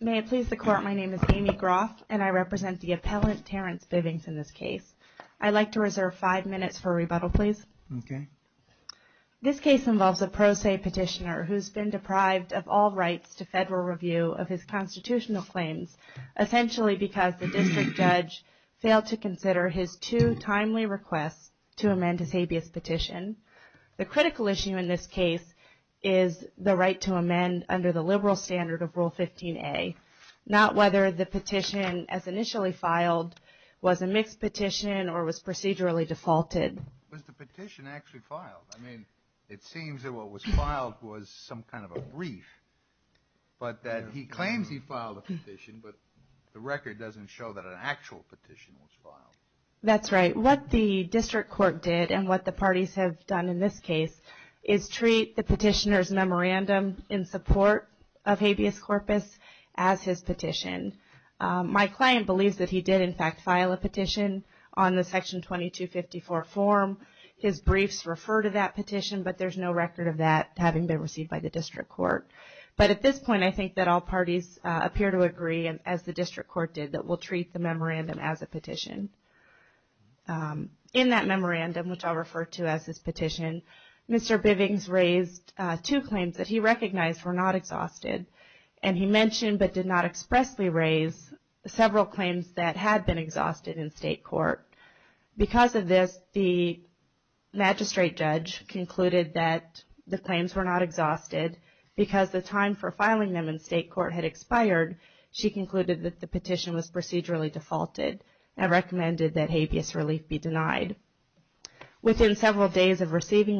May it please the Court, my name is Amy Groff and I represent the Appellant Terrence Bivings in this case. I'd like to reserve five minutes for rebuttal, please. This case involves a pro se petitioner who has been deprived of all rights to federal review of his constitutional claims, essentially because the district judge failed to consider his two timely requests to amend his habeas petition. The critical issue in this case is the right to amend under the liberal standard of Rule 15a, not whether the petition as initially filed was a mixed petition or was procedurally defaulted. Was the petition actually filed? I mean it seems that what was filed was some kind of a brief, but that he claims he filed a petition, but the record doesn't show that an actual petition was filed. That's right. What the petitioner's memorandum in support of habeas corpus as his petition. My client believes that he did in fact file a petition on the Section 2254 form. His briefs refer to that petition, but there's no record of that having been received by the district court. But at this point I think that all parties appear to agree, as the district court did, that we'll treat the memorandum as a petition. In that memorandum, which I'll refer to as his petition, Mr. Bivings raised two claims that he recognized were not exhausted, and he mentioned but did not expressly raise several claims that had been exhausted in state court. Because of this, the magistrate judge concluded that the claims were not exhausted because the time for filing them in state court had expired. She concluded that the petition was of receiving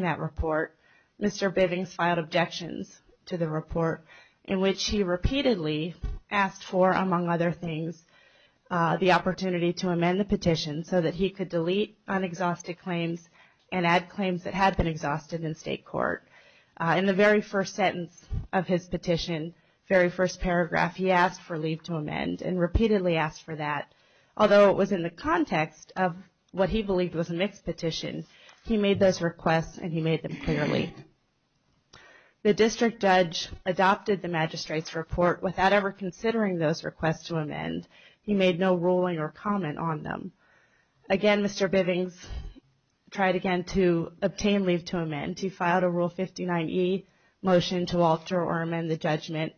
that report, Mr. Bivings filed objections to the report in which he repeatedly asked for, among other things, the opportunity to amend the petition so that he could delete unexhausted claims and add claims that had been exhausted in state court. In the very first sentence of his petition, very first paragraph, he asked for leave to amend and repeatedly asked for that. Although it was in the context of what he believed was a mixed petition, he made those requests and he made them clearly. The district judge adopted the magistrate's report without ever considering those requests to amend. He made no ruling or comment on them. Again, Mr. Bivings tried again to obtain leave to amend. He filed a Rule 59e motion to alter or amend the judgment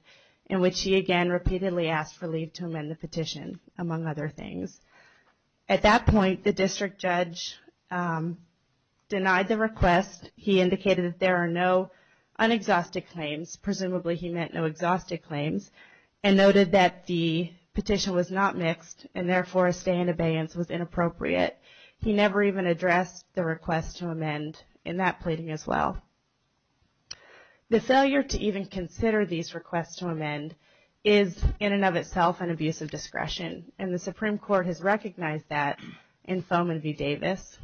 in which he again repeatedly asked for leave to amend the petition, among other things. At that point, the district judge denied the request. He indicated that there are no unexhausted claims. Presumably he meant no exhausted claims and noted that the petition was not mixed and therefore a stay in abeyance was inappropriate. He never even addressed the request to amend in that pleading as well. The failure to even consider these requests to amend is in and of itself an abuse of discretion, and the Supreme Court has recognized that in Fohman v. Davis.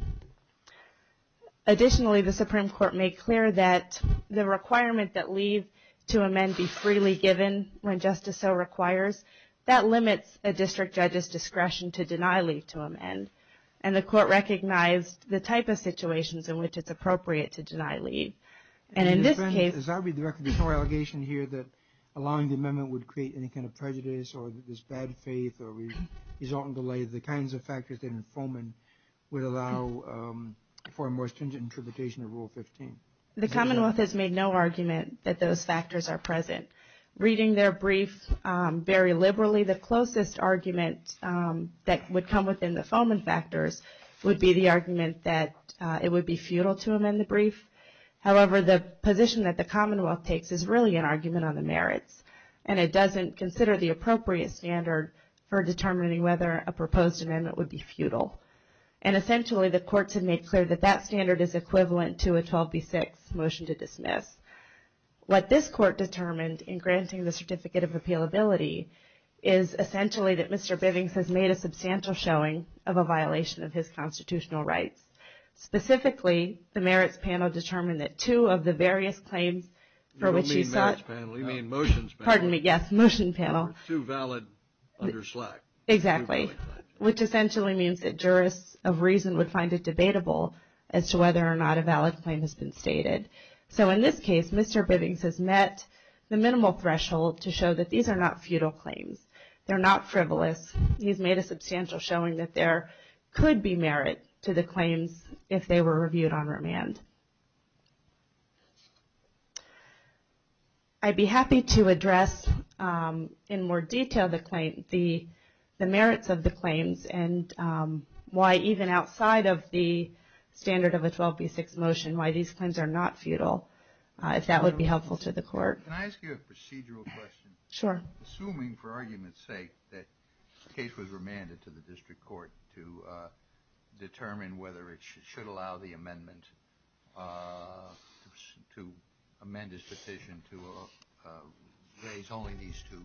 Additionally, the Supreme Court made clear that the requirement that leave to amend be freely given when justice so requires, that limits a district judge's discretion to deny leave to amend, and the court recognized the type of situations in which it's appropriate to deny leave. And in this case... As I read the record, there's no allegation here that allowing the amendment would create any kind of prejudice or this bad faith or result in delay. The kinds of factors in Fohman would allow for a more stringent interpretation of Rule 15. The Commonwealth has made no argument that those factors are present. Reading their brief very liberally, the closest argument that would come within the Fohman factors would be the it would be futile to amend the brief. However, the position that the Commonwealth takes is really an argument on the merits, and it doesn't consider the appropriate standard for determining whether a proposed amendment would be futile. And essentially, the courts have made clear that that standard is equivalent to a 12B6 motion to dismiss. What this court determined in granting the Certificate of Appealability is essentially that Mr. Bivings has made a substantial showing of a violation of his constitutional rights. Specifically, the merits panel determined that two of the various claims for which he sought... You don't mean merits panel, you mean motions panel. Pardon me, yes, motion panel. Two valid under slack. Exactly, which essentially means that jurists of reason would find it debatable as to whether or not a valid claim has been stated. So in this case, Mr. Bivings has met the minimal threshold to show that these are not futile claims. They're not frivolous. He's made a substantial showing that there could be merit to the claims if they were reviewed on remand. I'd be happy to address in more detail the merits of the claims and why even outside of the standard of a 12B6 motion, why these claims are not futile, if that would be helpful to the court. Can I ask you a procedural question? Sure. Assuming, for argument's sake, that the case was remanded to the district court to determine whether it should allow the amendment to amend his petition to raise only these two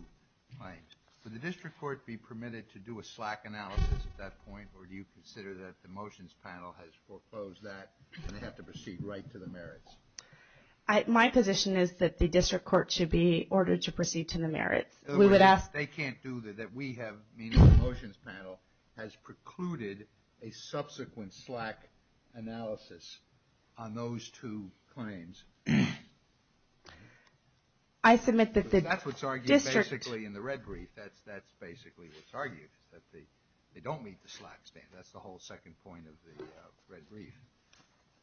claims, would the district court be permitted to do a slack analysis at that point, or do you consider that the motions panel has foreclosed that and they have to proceed right to the merits? My position is that the district court should be ordered to proceed to the merits. In other words, they can't do that. We have, meaning the motions panel, has precluded a subsequent slack analysis on those two claims. I submit that the district... That's what's argued basically in the red brief. That's basically what's argued, is that they don't meet the slack standard. That's the whole second point of the red brief.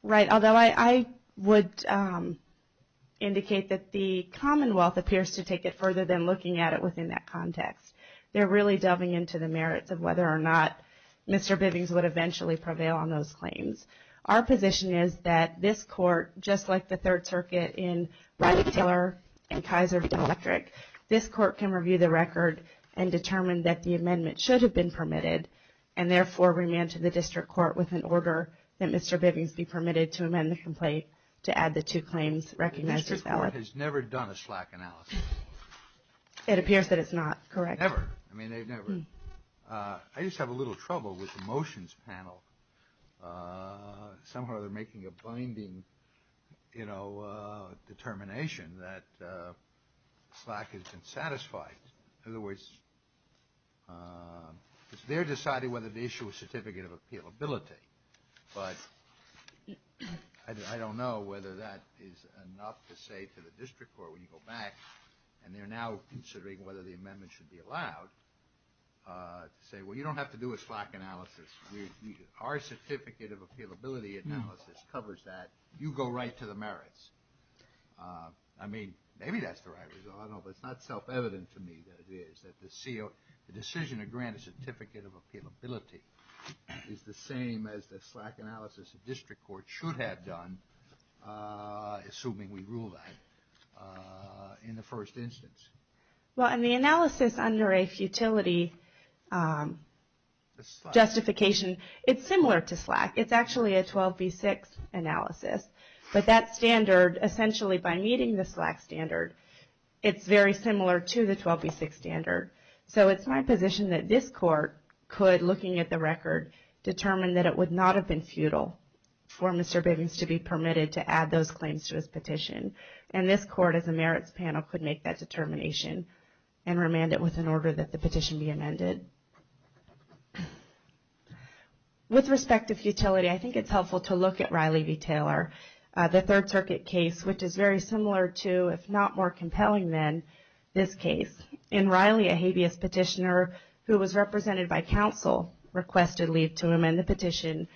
Right. Although I would indicate that the Commonwealth appears to take it further than looking at it within that context. They're really delving into the merits of whether or not Mr. Bivings would eventually prevail on those claims. Our position is that this court, just like the Third Circuit in Riley-Taylor and Kaiser v. Electric, this court can review the record and determine that the amendment should have been permitted and therefore remand to the district court with an order that Mr. Bivings be permitted to amend the complaint to add the two claims recognized as valid. The district court has never done a slack analysis. It appears that it's not, correct. Never. I mean, they've never... I just have a little trouble with the motions panel. Somehow they're making a binding determination that slack has been satisfied. In other words, it's their deciding whether to issue a certificate of appealability, but I don't know whether that is enough to say to the district court when you go back and they're now considering whether the amendment should be allowed to say, well, you don't have to do a slack analysis. Our certificate of appealability analysis covers that. You go right to the merits. I mean, maybe that's the right result. I don't know, but it's not self-evident to me that it is, the decision to grant a certificate of appealability is the same as the slack analysis the district court should have done, assuming we rule that in the first instance. Well, and the analysis under a futility justification, it's similar to slack. It's actually a 12B6 analysis, but that standard essentially by meeting the slack standard, it's very similar to the 12B6 standard. So it's my position that this court could, looking at the record, determine that it would not have been futile for Mr. Biggins to be permitted to add those claims to his petition. And this court as a merits panel could make that determination and remand it with an order that the petition be amended. With respect to futility, I think it's helpful to look at Riley v. Taylor, the Third Circuit case, which is very similar to, if not more compelling than, this case. In Riley, a habeas petitioner who was represented by counsel requested leave to amend the petition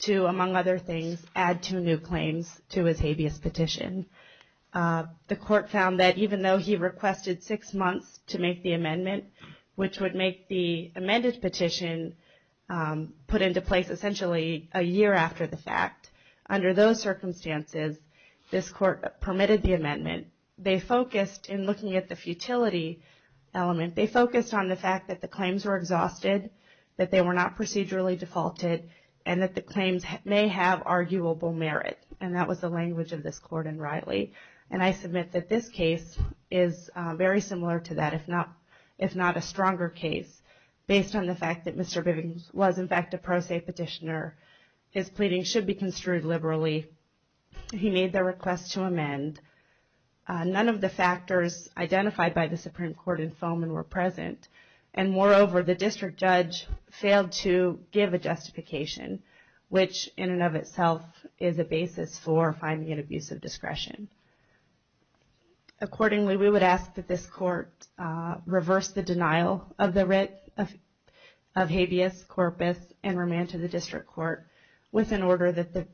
to, among other things, add two new claims to his habeas petition. The court found that even though he requested six months to make the amendment, which would make the amended petition put into place essentially a year after the fact, under those circumstances, this court permitted the amendment. They focused, in looking at the futility element, they focused on the fact that the claims were exhausted, that they were not procedurally defaulted, and that the claims may have arguable merit. And that was the language of this court in Riley. And I submit that this case is very similar to that, if not a stronger case, based on the fact that Mr. Bivins was, in fact, a pro se petitioner. His pleading should be construed liberally. He made the request to amend. None of the factors identified by the Supreme Court in Foman were present. And moreover, the district judge failed to give a justification, which in and of itself is a basis for finding an abuse of discretion. Accordingly, we would ask that this court reverse the denial of the writ of habeas corpus and remand to the district court, with an order that the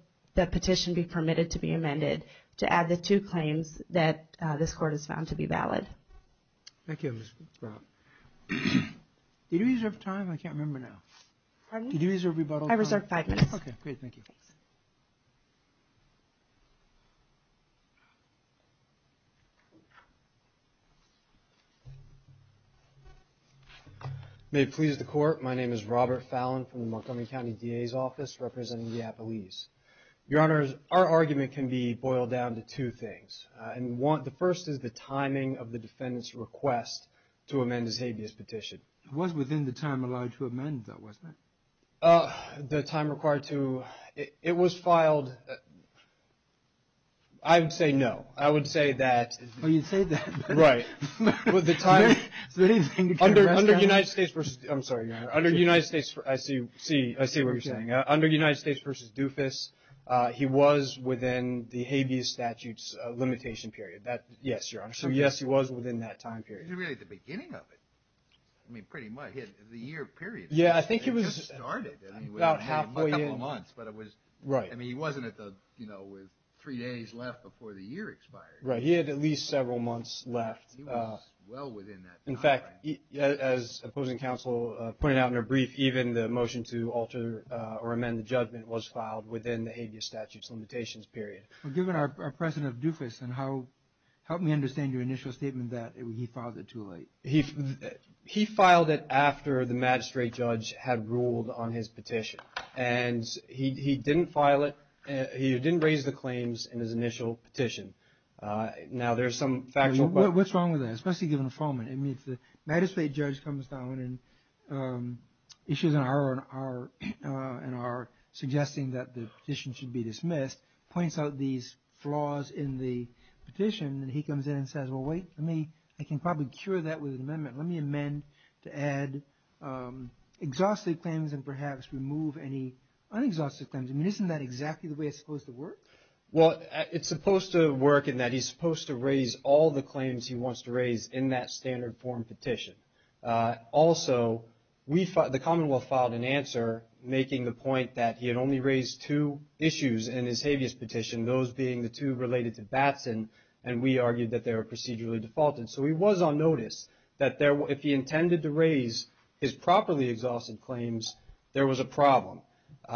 petition be permitted to be amended, to add the two claims that this court has found to be valid. Thank you, Ms. Brown. Did you reserve time? I can't remember now. Pardon? Did you reserve rebuttal time? I reserved five minutes. Okay, great. Thank you. Thanks. Thank you. May it please the court, my name is Robert Fallon from the Montgomery County DA's office, representing the Appalachians. Your honors, our argument can be boiled down to two things. And the first is the timing of the defendant's request to amend his habeas petition. It was within the time allowed to amend, though, wasn't it? The time required to... It was filed... I would say no. I would say that... Oh, you'd say that? Right. Under United States versus... I'm sorry, your honor. Under United States... I see what you're saying. Under United States versus Dufus, he was within the habeas statute's limitation period. Yes, your honor. So, yes, he was within that time period. Is it really the beginning of it? I mean, pretty much. The year period. Yeah, I think it was... About half a year. A couple of months, but it was... Right. I mean, he wasn't at the... With three days left before the year expired. Right. He had at least several months left. He was well within that time frame. In fact, as opposing counsel pointed out in a brief, even the motion to alter or amend the judgment was filed within the habeas statute's limitations period. Given our precedent of Dufus and how... Help me understand your initial statement that he filed it too late. He filed it after the magistrate judge had ruled on his petition, and he didn't file it... He didn't raise the claims in his initial petition. Now, there's some factual... What's wrong with that, especially given the... I mean, if the magistrate judge comes down and issues an error and are suggesting that the petition should be dismissed, points out these flaws in the petition, and he comes in and says, well, wait, let me... I can probably secure that with an amendment. Let me amend to add exhausted claims and perhaps remove any unexhausted claims. I mean, isn't that exactly the way it's supposed to work? Well, it's supposed to work in that he's supposed to raise all the claims he wants to raise in that standard form petition. Also, the Commonwealth filed an answer making the point that he had only raised two issues in his habeas petition, those being the two related to Batson, and we argued that they were procedurally defaulted. So he was on notice that if he intended to raise his properly exhausted claims, there was a problem.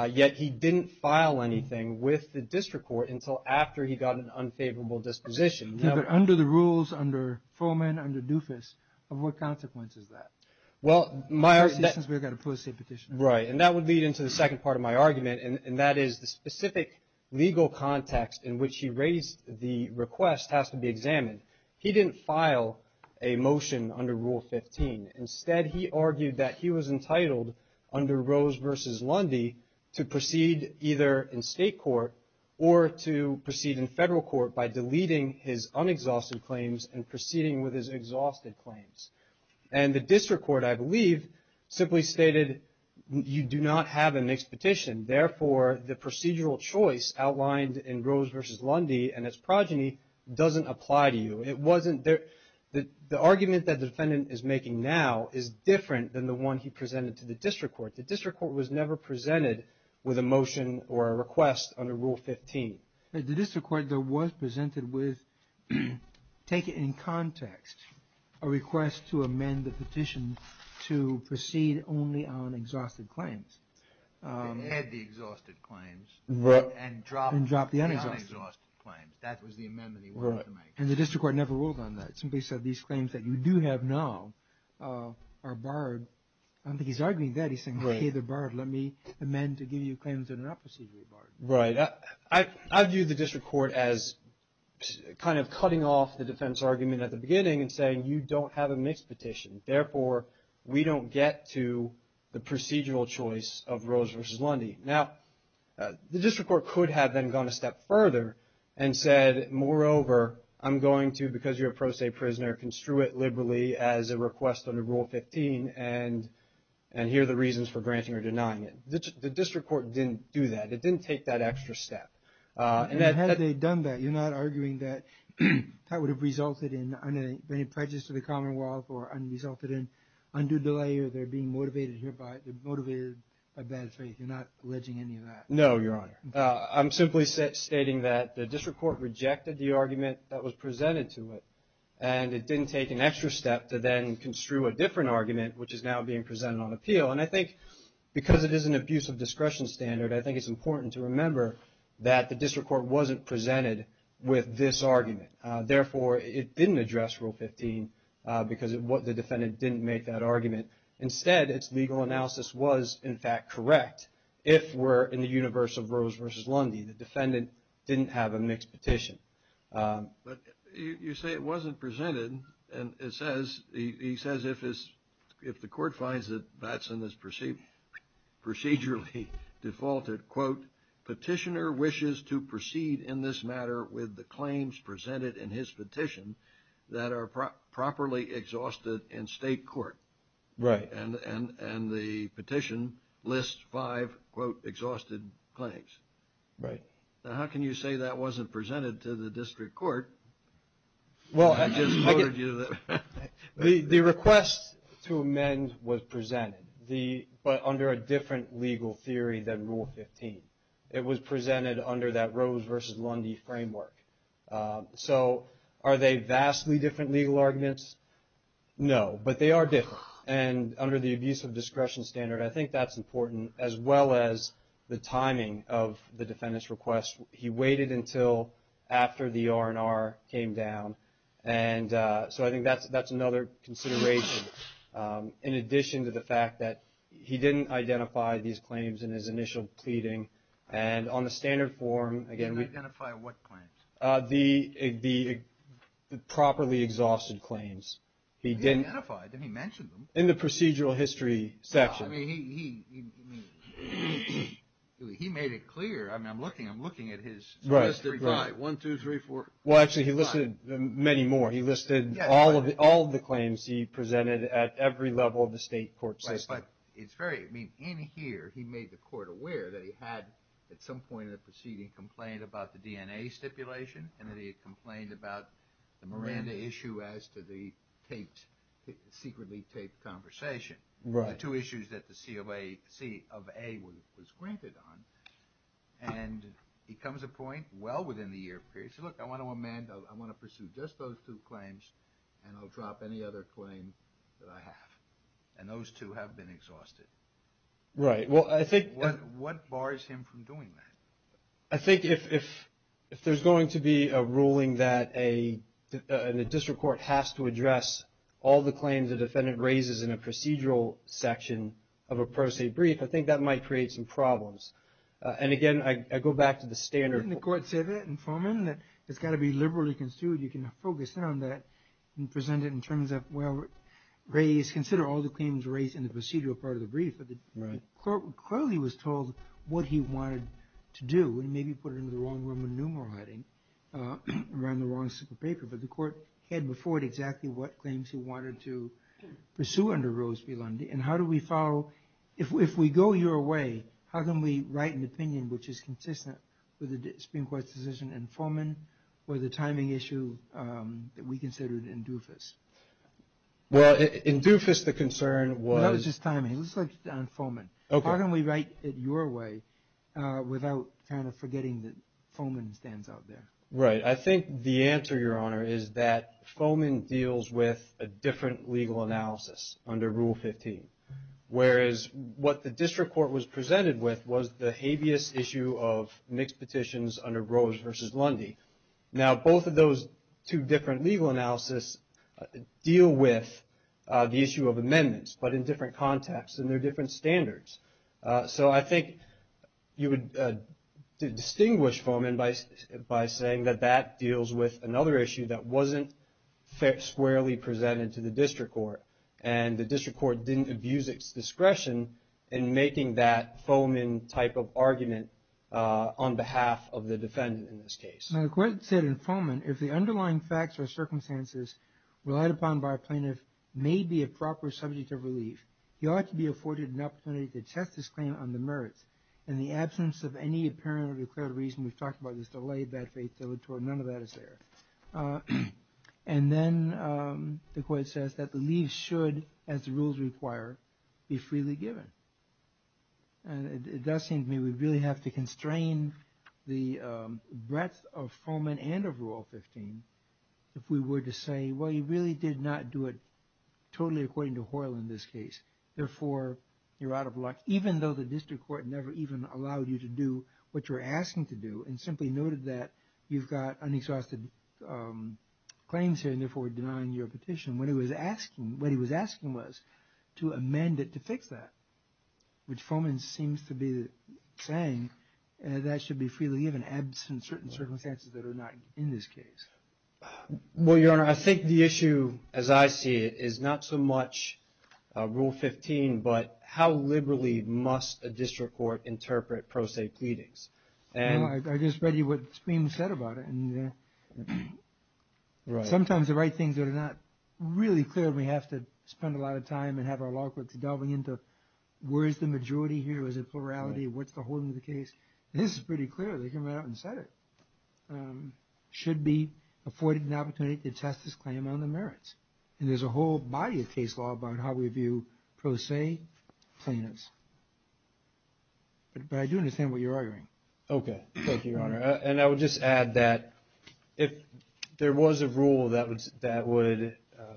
Yet he didn't file anything with the district court until after he got an unfavorable disposition. Under the rules, under Fuhrman, under Dufus, of what consequence is that? Well, my... Since we've got a policy petition. Right, and that would lead into the second part of my argument, and that is the specific legal context in which he raised the request has to be examined. He didn't file a motion under Rule 15. Instead, he argued that he was entitled under Rose v. Lundy to proceed either in state court or to proceed in federal court by deleting his unexhausted claims and proceeding with his exhausted claims. And the district court, I believe, simply stated, you do not have an expedition. Therefore, the procedural choice outlined in Rose v. Lundy and its progeny doesn't apply to you. It wasn't... The argument that the defendant is making now is different than the one he presented to the district court. The district court was never presented with a motion or a request under Rule 15. The district court, though, was presented with, take it in context, a request to amend the petition to proceed only on exhausted claims. To add the exhausted claims. Right. And drop the unexhausted claims. That was the amendment he wanted to make. And the district court never ruled on that. It simply said, these claims that you do have now are barred. I don't think he's arguing that. He's saying, okay, they're barred. Let me amend to give you claims that are not procedurally barred. Right. I view the district court as kind of cutting off the defense argument at the beginning and saying, you don't have a mixed petition. Therefore, we don't get to the procedural choice of Rose v. Lundy. Now, the district court could have then gone a step further and said, moreover, I'm going to, because you're a pro se prisoner, construe it liberally as a request under Rule 15 and here are the reasons for granting or denying it. The district court didn't do that. It didn't take that extra step. Had they done that, you're not arguing that that would have resulted in any prejudice to the commonwealth or resulted in undue delay or they're being motivated by bad faith. You're not alleging any of that. No, Your Honor. I'm simply stating that the district court rejected the argument that was presented to it and it didn't take an extra step to then construe a different argument, which is now being presented on appeal. And I think because it is an abuse of discretion standard, I think it's important to remember that the district court wasn't presented with this argument. Therefore, it didn't address Rule 15 because the defendant didn't make that argument. Instead, its legal analysis was, in fact, correct if we're in the universe of Rose v. Lundy. The defendant didn't have a mixed petition. But you say it wasn't presented and it says, he says if the court finds that Batson is procedurally defaulted, quote, petitioner wishes to proceed in this matter with the claims presented in his petition that are properly exhausted in state court. Right. And the petition lists five, quote, exhausted claims. Right. Now, how can you say that wasn't presented to the district court? Well, the request to amend was presented, but under a different legal theory than Rule 15. It was presented under that Rose v. Lundy framework. So are they vastly different legal arguments? No, but they are different. And under the abuse of discretion standard, I think that's important, as well as the timing of the defendant's request. He waited until after the R&R came down. And so I think that's another consideration. In addition to the fact that he didn't identify these claims in his initial pleading. And on the standard form, again, we Didn't identify what claims? The properly exhausted claims. He didn't He identified them. He mentioned them. In the procedural history section. I mean, he made it clear. I mean, I'm looking at his Right, right. One, two, three, four, five. Well, actually, he listed many more. He listed all of the claims he presented at every level of the state court system. Right, but it's very, I mean, in here, he made the court aware that he had, at some point in the proceeding, complained about the DNA stipulation. And then he complained about the Miranda issue as to the taped, secretly taped conversation. Right. Two issues that the C of A was granted on. And he comes to a point well within the year period. He said, look, I want to amend, I want to pursue just those two claims. And I'll drop any other claim that I have. And those two have been exhausted. Right, well, I think What bars him from doing that? I think if there's going to be a ruling that a district court has to address all the claims a defendant raises in a procedural section of a pro se brief, I think that might create some problems. And again, I go back to the standard Didn't the court say that in Foreman? That it's got to be liberally construed. You can focus in on that and present it in terms of, well, raise, consider all the claims raised in the procedural part of the brief. But the court clearly was told what he wanted to do. And maybe put it into the wrong room of numeral writing, around the wrong stick of paper. But the court had before it exactly what claims he wanted to pursue under Rose B. Lundy. And how do we follow, if we go your way, how can we write an opinion which is consistent with the Supreme Court's decision in Foreman? Or the timing issue that we considered in Dufus? Well, in Dufus, the concern was That was just timing. Let's look on Foreman. How can we write it your way? Without kind of forgetting that Foreman stands out there. Right. I think the answer, Your Honor, is that Foreman deals with a different legal analysis under Rule 15. Whereas what the district court was presented with was the habeas issue of mixed petitions under Rose versus Lundy. Now, both of those two different legal analysis deal with the issue of amendments, but in different contexts and they're different standards. So I think you would distinguish Foreman by saying that that deals with another issue that wasn't squarely presented to the district court. And the district court didn't abuse its discretion in making that Foreman type of argument on behalf of the defendant in this case. Now, the court said in Foreman, if the underlying facts or circumstances relied upon by a plaintiff may be a proper subject of relief, he ought to be afforded an opportunity to test his claim on the merits. In the absence of any apparent or declared reason, we've talked about this delay, bad faith, dilatory, none of that is there. And then the court says that the leave should, as the rules require, be freely given. And it does seem to me we really have to constrain the breadth of Foreman and of Rule 15 if we were to say, well, you really did not do it therefore you're out of luck, even though the district court never even allowed you to do what you're asking to do and simply noted that you've got unexhausted claims here and therefore denying your petition. What he was asking was to amend it to fix that, which Foreman seems to be saying that should be freely given absent certain circumstances that are not in this case. Well, Your Honor, I think the issue, as I see it, is not so much Rule 15, but how liberally must a district court interpret pro se pleadings? I just read you what's being said about it and sometimes the right things that are not really clear, we have to spend a lot of time and have our law clerks delving into where is the majority here, is it plurality, what's the whole of the case? This is pretty clear, they came out and said it. Should be afforded an opportunity to test this claim on the merits and there's a whole body of case law about how we view pro se plaintiffs, but I do understand what you're arguing. Okay, thank you, Your Honor, and I would just add that if there was a rule that would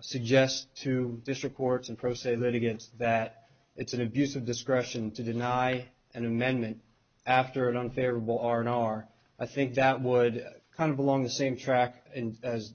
suggest to district courts and pro se litigants that it's an abuse of discretion to deny an amendment after an unfavorable R&R, I think that would kind of belong the same track as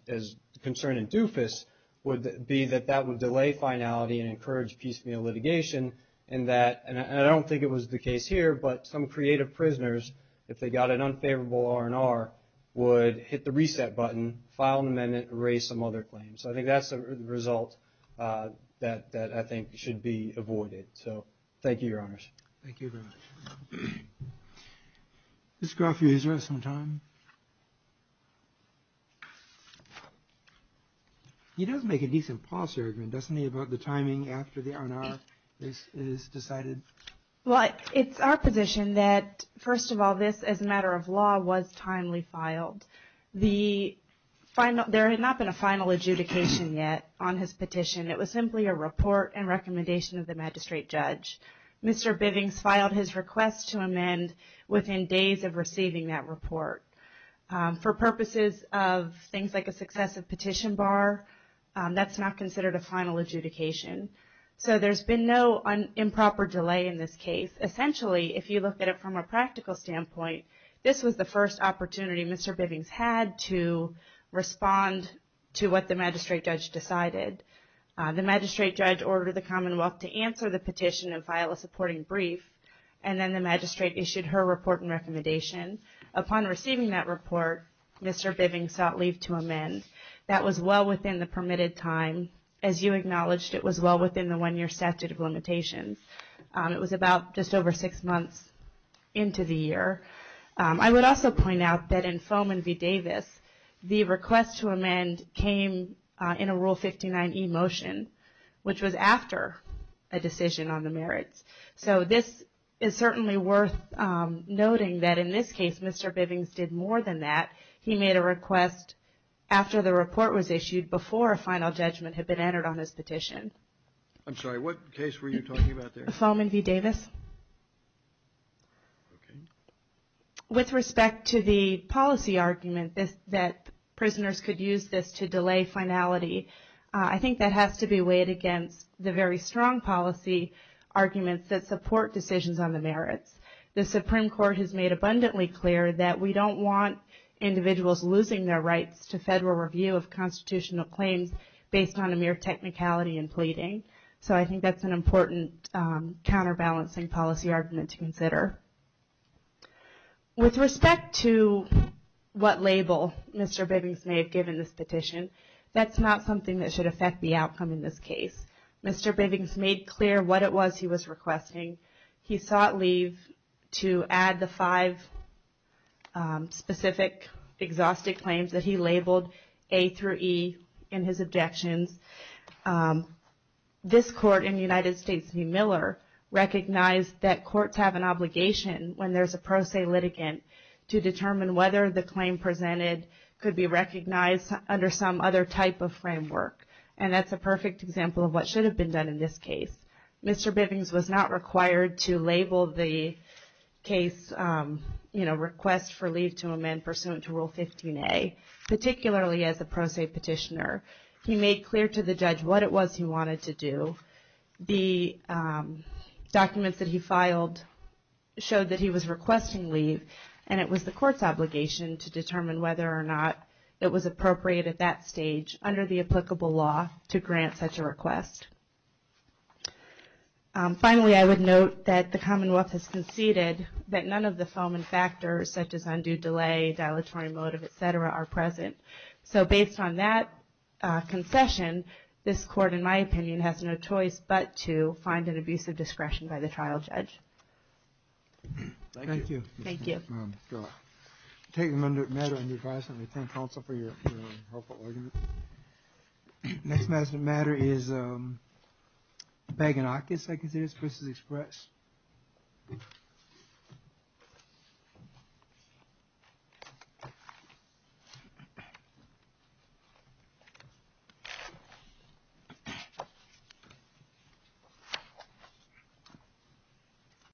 concern in DUFUS would be that that would delay finality and encourage piecemeal litigation and I don't think it was the case here, but some creative prisoners, if they got an unfavorable R&R, would hit the reset button, file an amendment, erase some other claims. So I think that's a result that I think should be avoided. So thank you, Your Honors. Thank you very much. Ms. Groff, you have some time. He does make a decent policy argument, doesn't he, about the timing after the R&R is decided? Well, it's our position that, first of all, this as a matter of law was timely filed. There had not been a final adjudication yet on his petition. It was simply a report and recommendation of the magistrate judge. Mr. Bivings filed his request to amend within days of receiving that report. For purposes of things like a successive petition bar, that's not considered a final adjudication. So there's been no improper delay in this case. Essentially, if you look at it from a practical standpoint, this was the first opportunity Mr. Bivings had to respond to what the magistrate judge decided. The magistrate judge ordered the Commonwealth to answer the petition and file a supporting brief, and then the magistrate issued her report and recommendation. Upon receiving that report, Mr. Bivings sought leave to amend. That was well within the permitted time. As you acknowledged, it was well within the one-year statute of limitations. It was about just over six months into the year. I would also point out that in Fohman v. Davis, the request to amend came in a Rule 59e motion, which was after a decision on the merits. So this is certainly worth noting that in this case, Mr. Bivings did more than that. He made a request after the report was issued before a final judgment had been entered on his petition. I'm sorry, what case were you talking about there? Fohman v. Davis. With respect to the policy argument that prisoners could use this to delay finality, I think that has to be weighed against the very strong policy arguments that support decisions on the merits. The Supreme Court has made abundantly clear that we don't want individuals losing their rights to federal review of constitutional claims based on a mere technicality in pleading. So I think that's an important counterbalancing policy argument to consider. With respect to what label Mr. Bivings may have given this petition, that's not something that should affect the outcome in this case. Mr. Bivings made clear what it was he was requesting. He sought leave to add the five specific exhaustive claims that he labeled A through E in his objections. This court in the United States v. Miller recognized that courts have an obligation when there's a pro se litigant to determine whether the claim presented could be recognized under some other type of framework. And that's a perfect example of what should have been done in this case. Mr. Bivings was not required to label the case request for leave to amend pursuant to Rule 15a, particularly as a pro se petitioner. He made clear to the judge what it was he wanted to do. The documents that he filed showed that he was requesting leave and it was the court's obligation to determine whether or not it was appropriate at that stage under the applicable law to grant such a request. Finally, I would note that the Commonwealth has conceded that none of the felon factors such as undue delay, dilatory motive, etc. are present. So based on that concession, this court, in my opinion, has no choice but to find an abuse of discretion by the trial judge. Thank you. Thank you. I'm going to take the matter and advise and retain counsel for your helpful argument. Next matter of matter is Baginakis, I consider, this is expressed.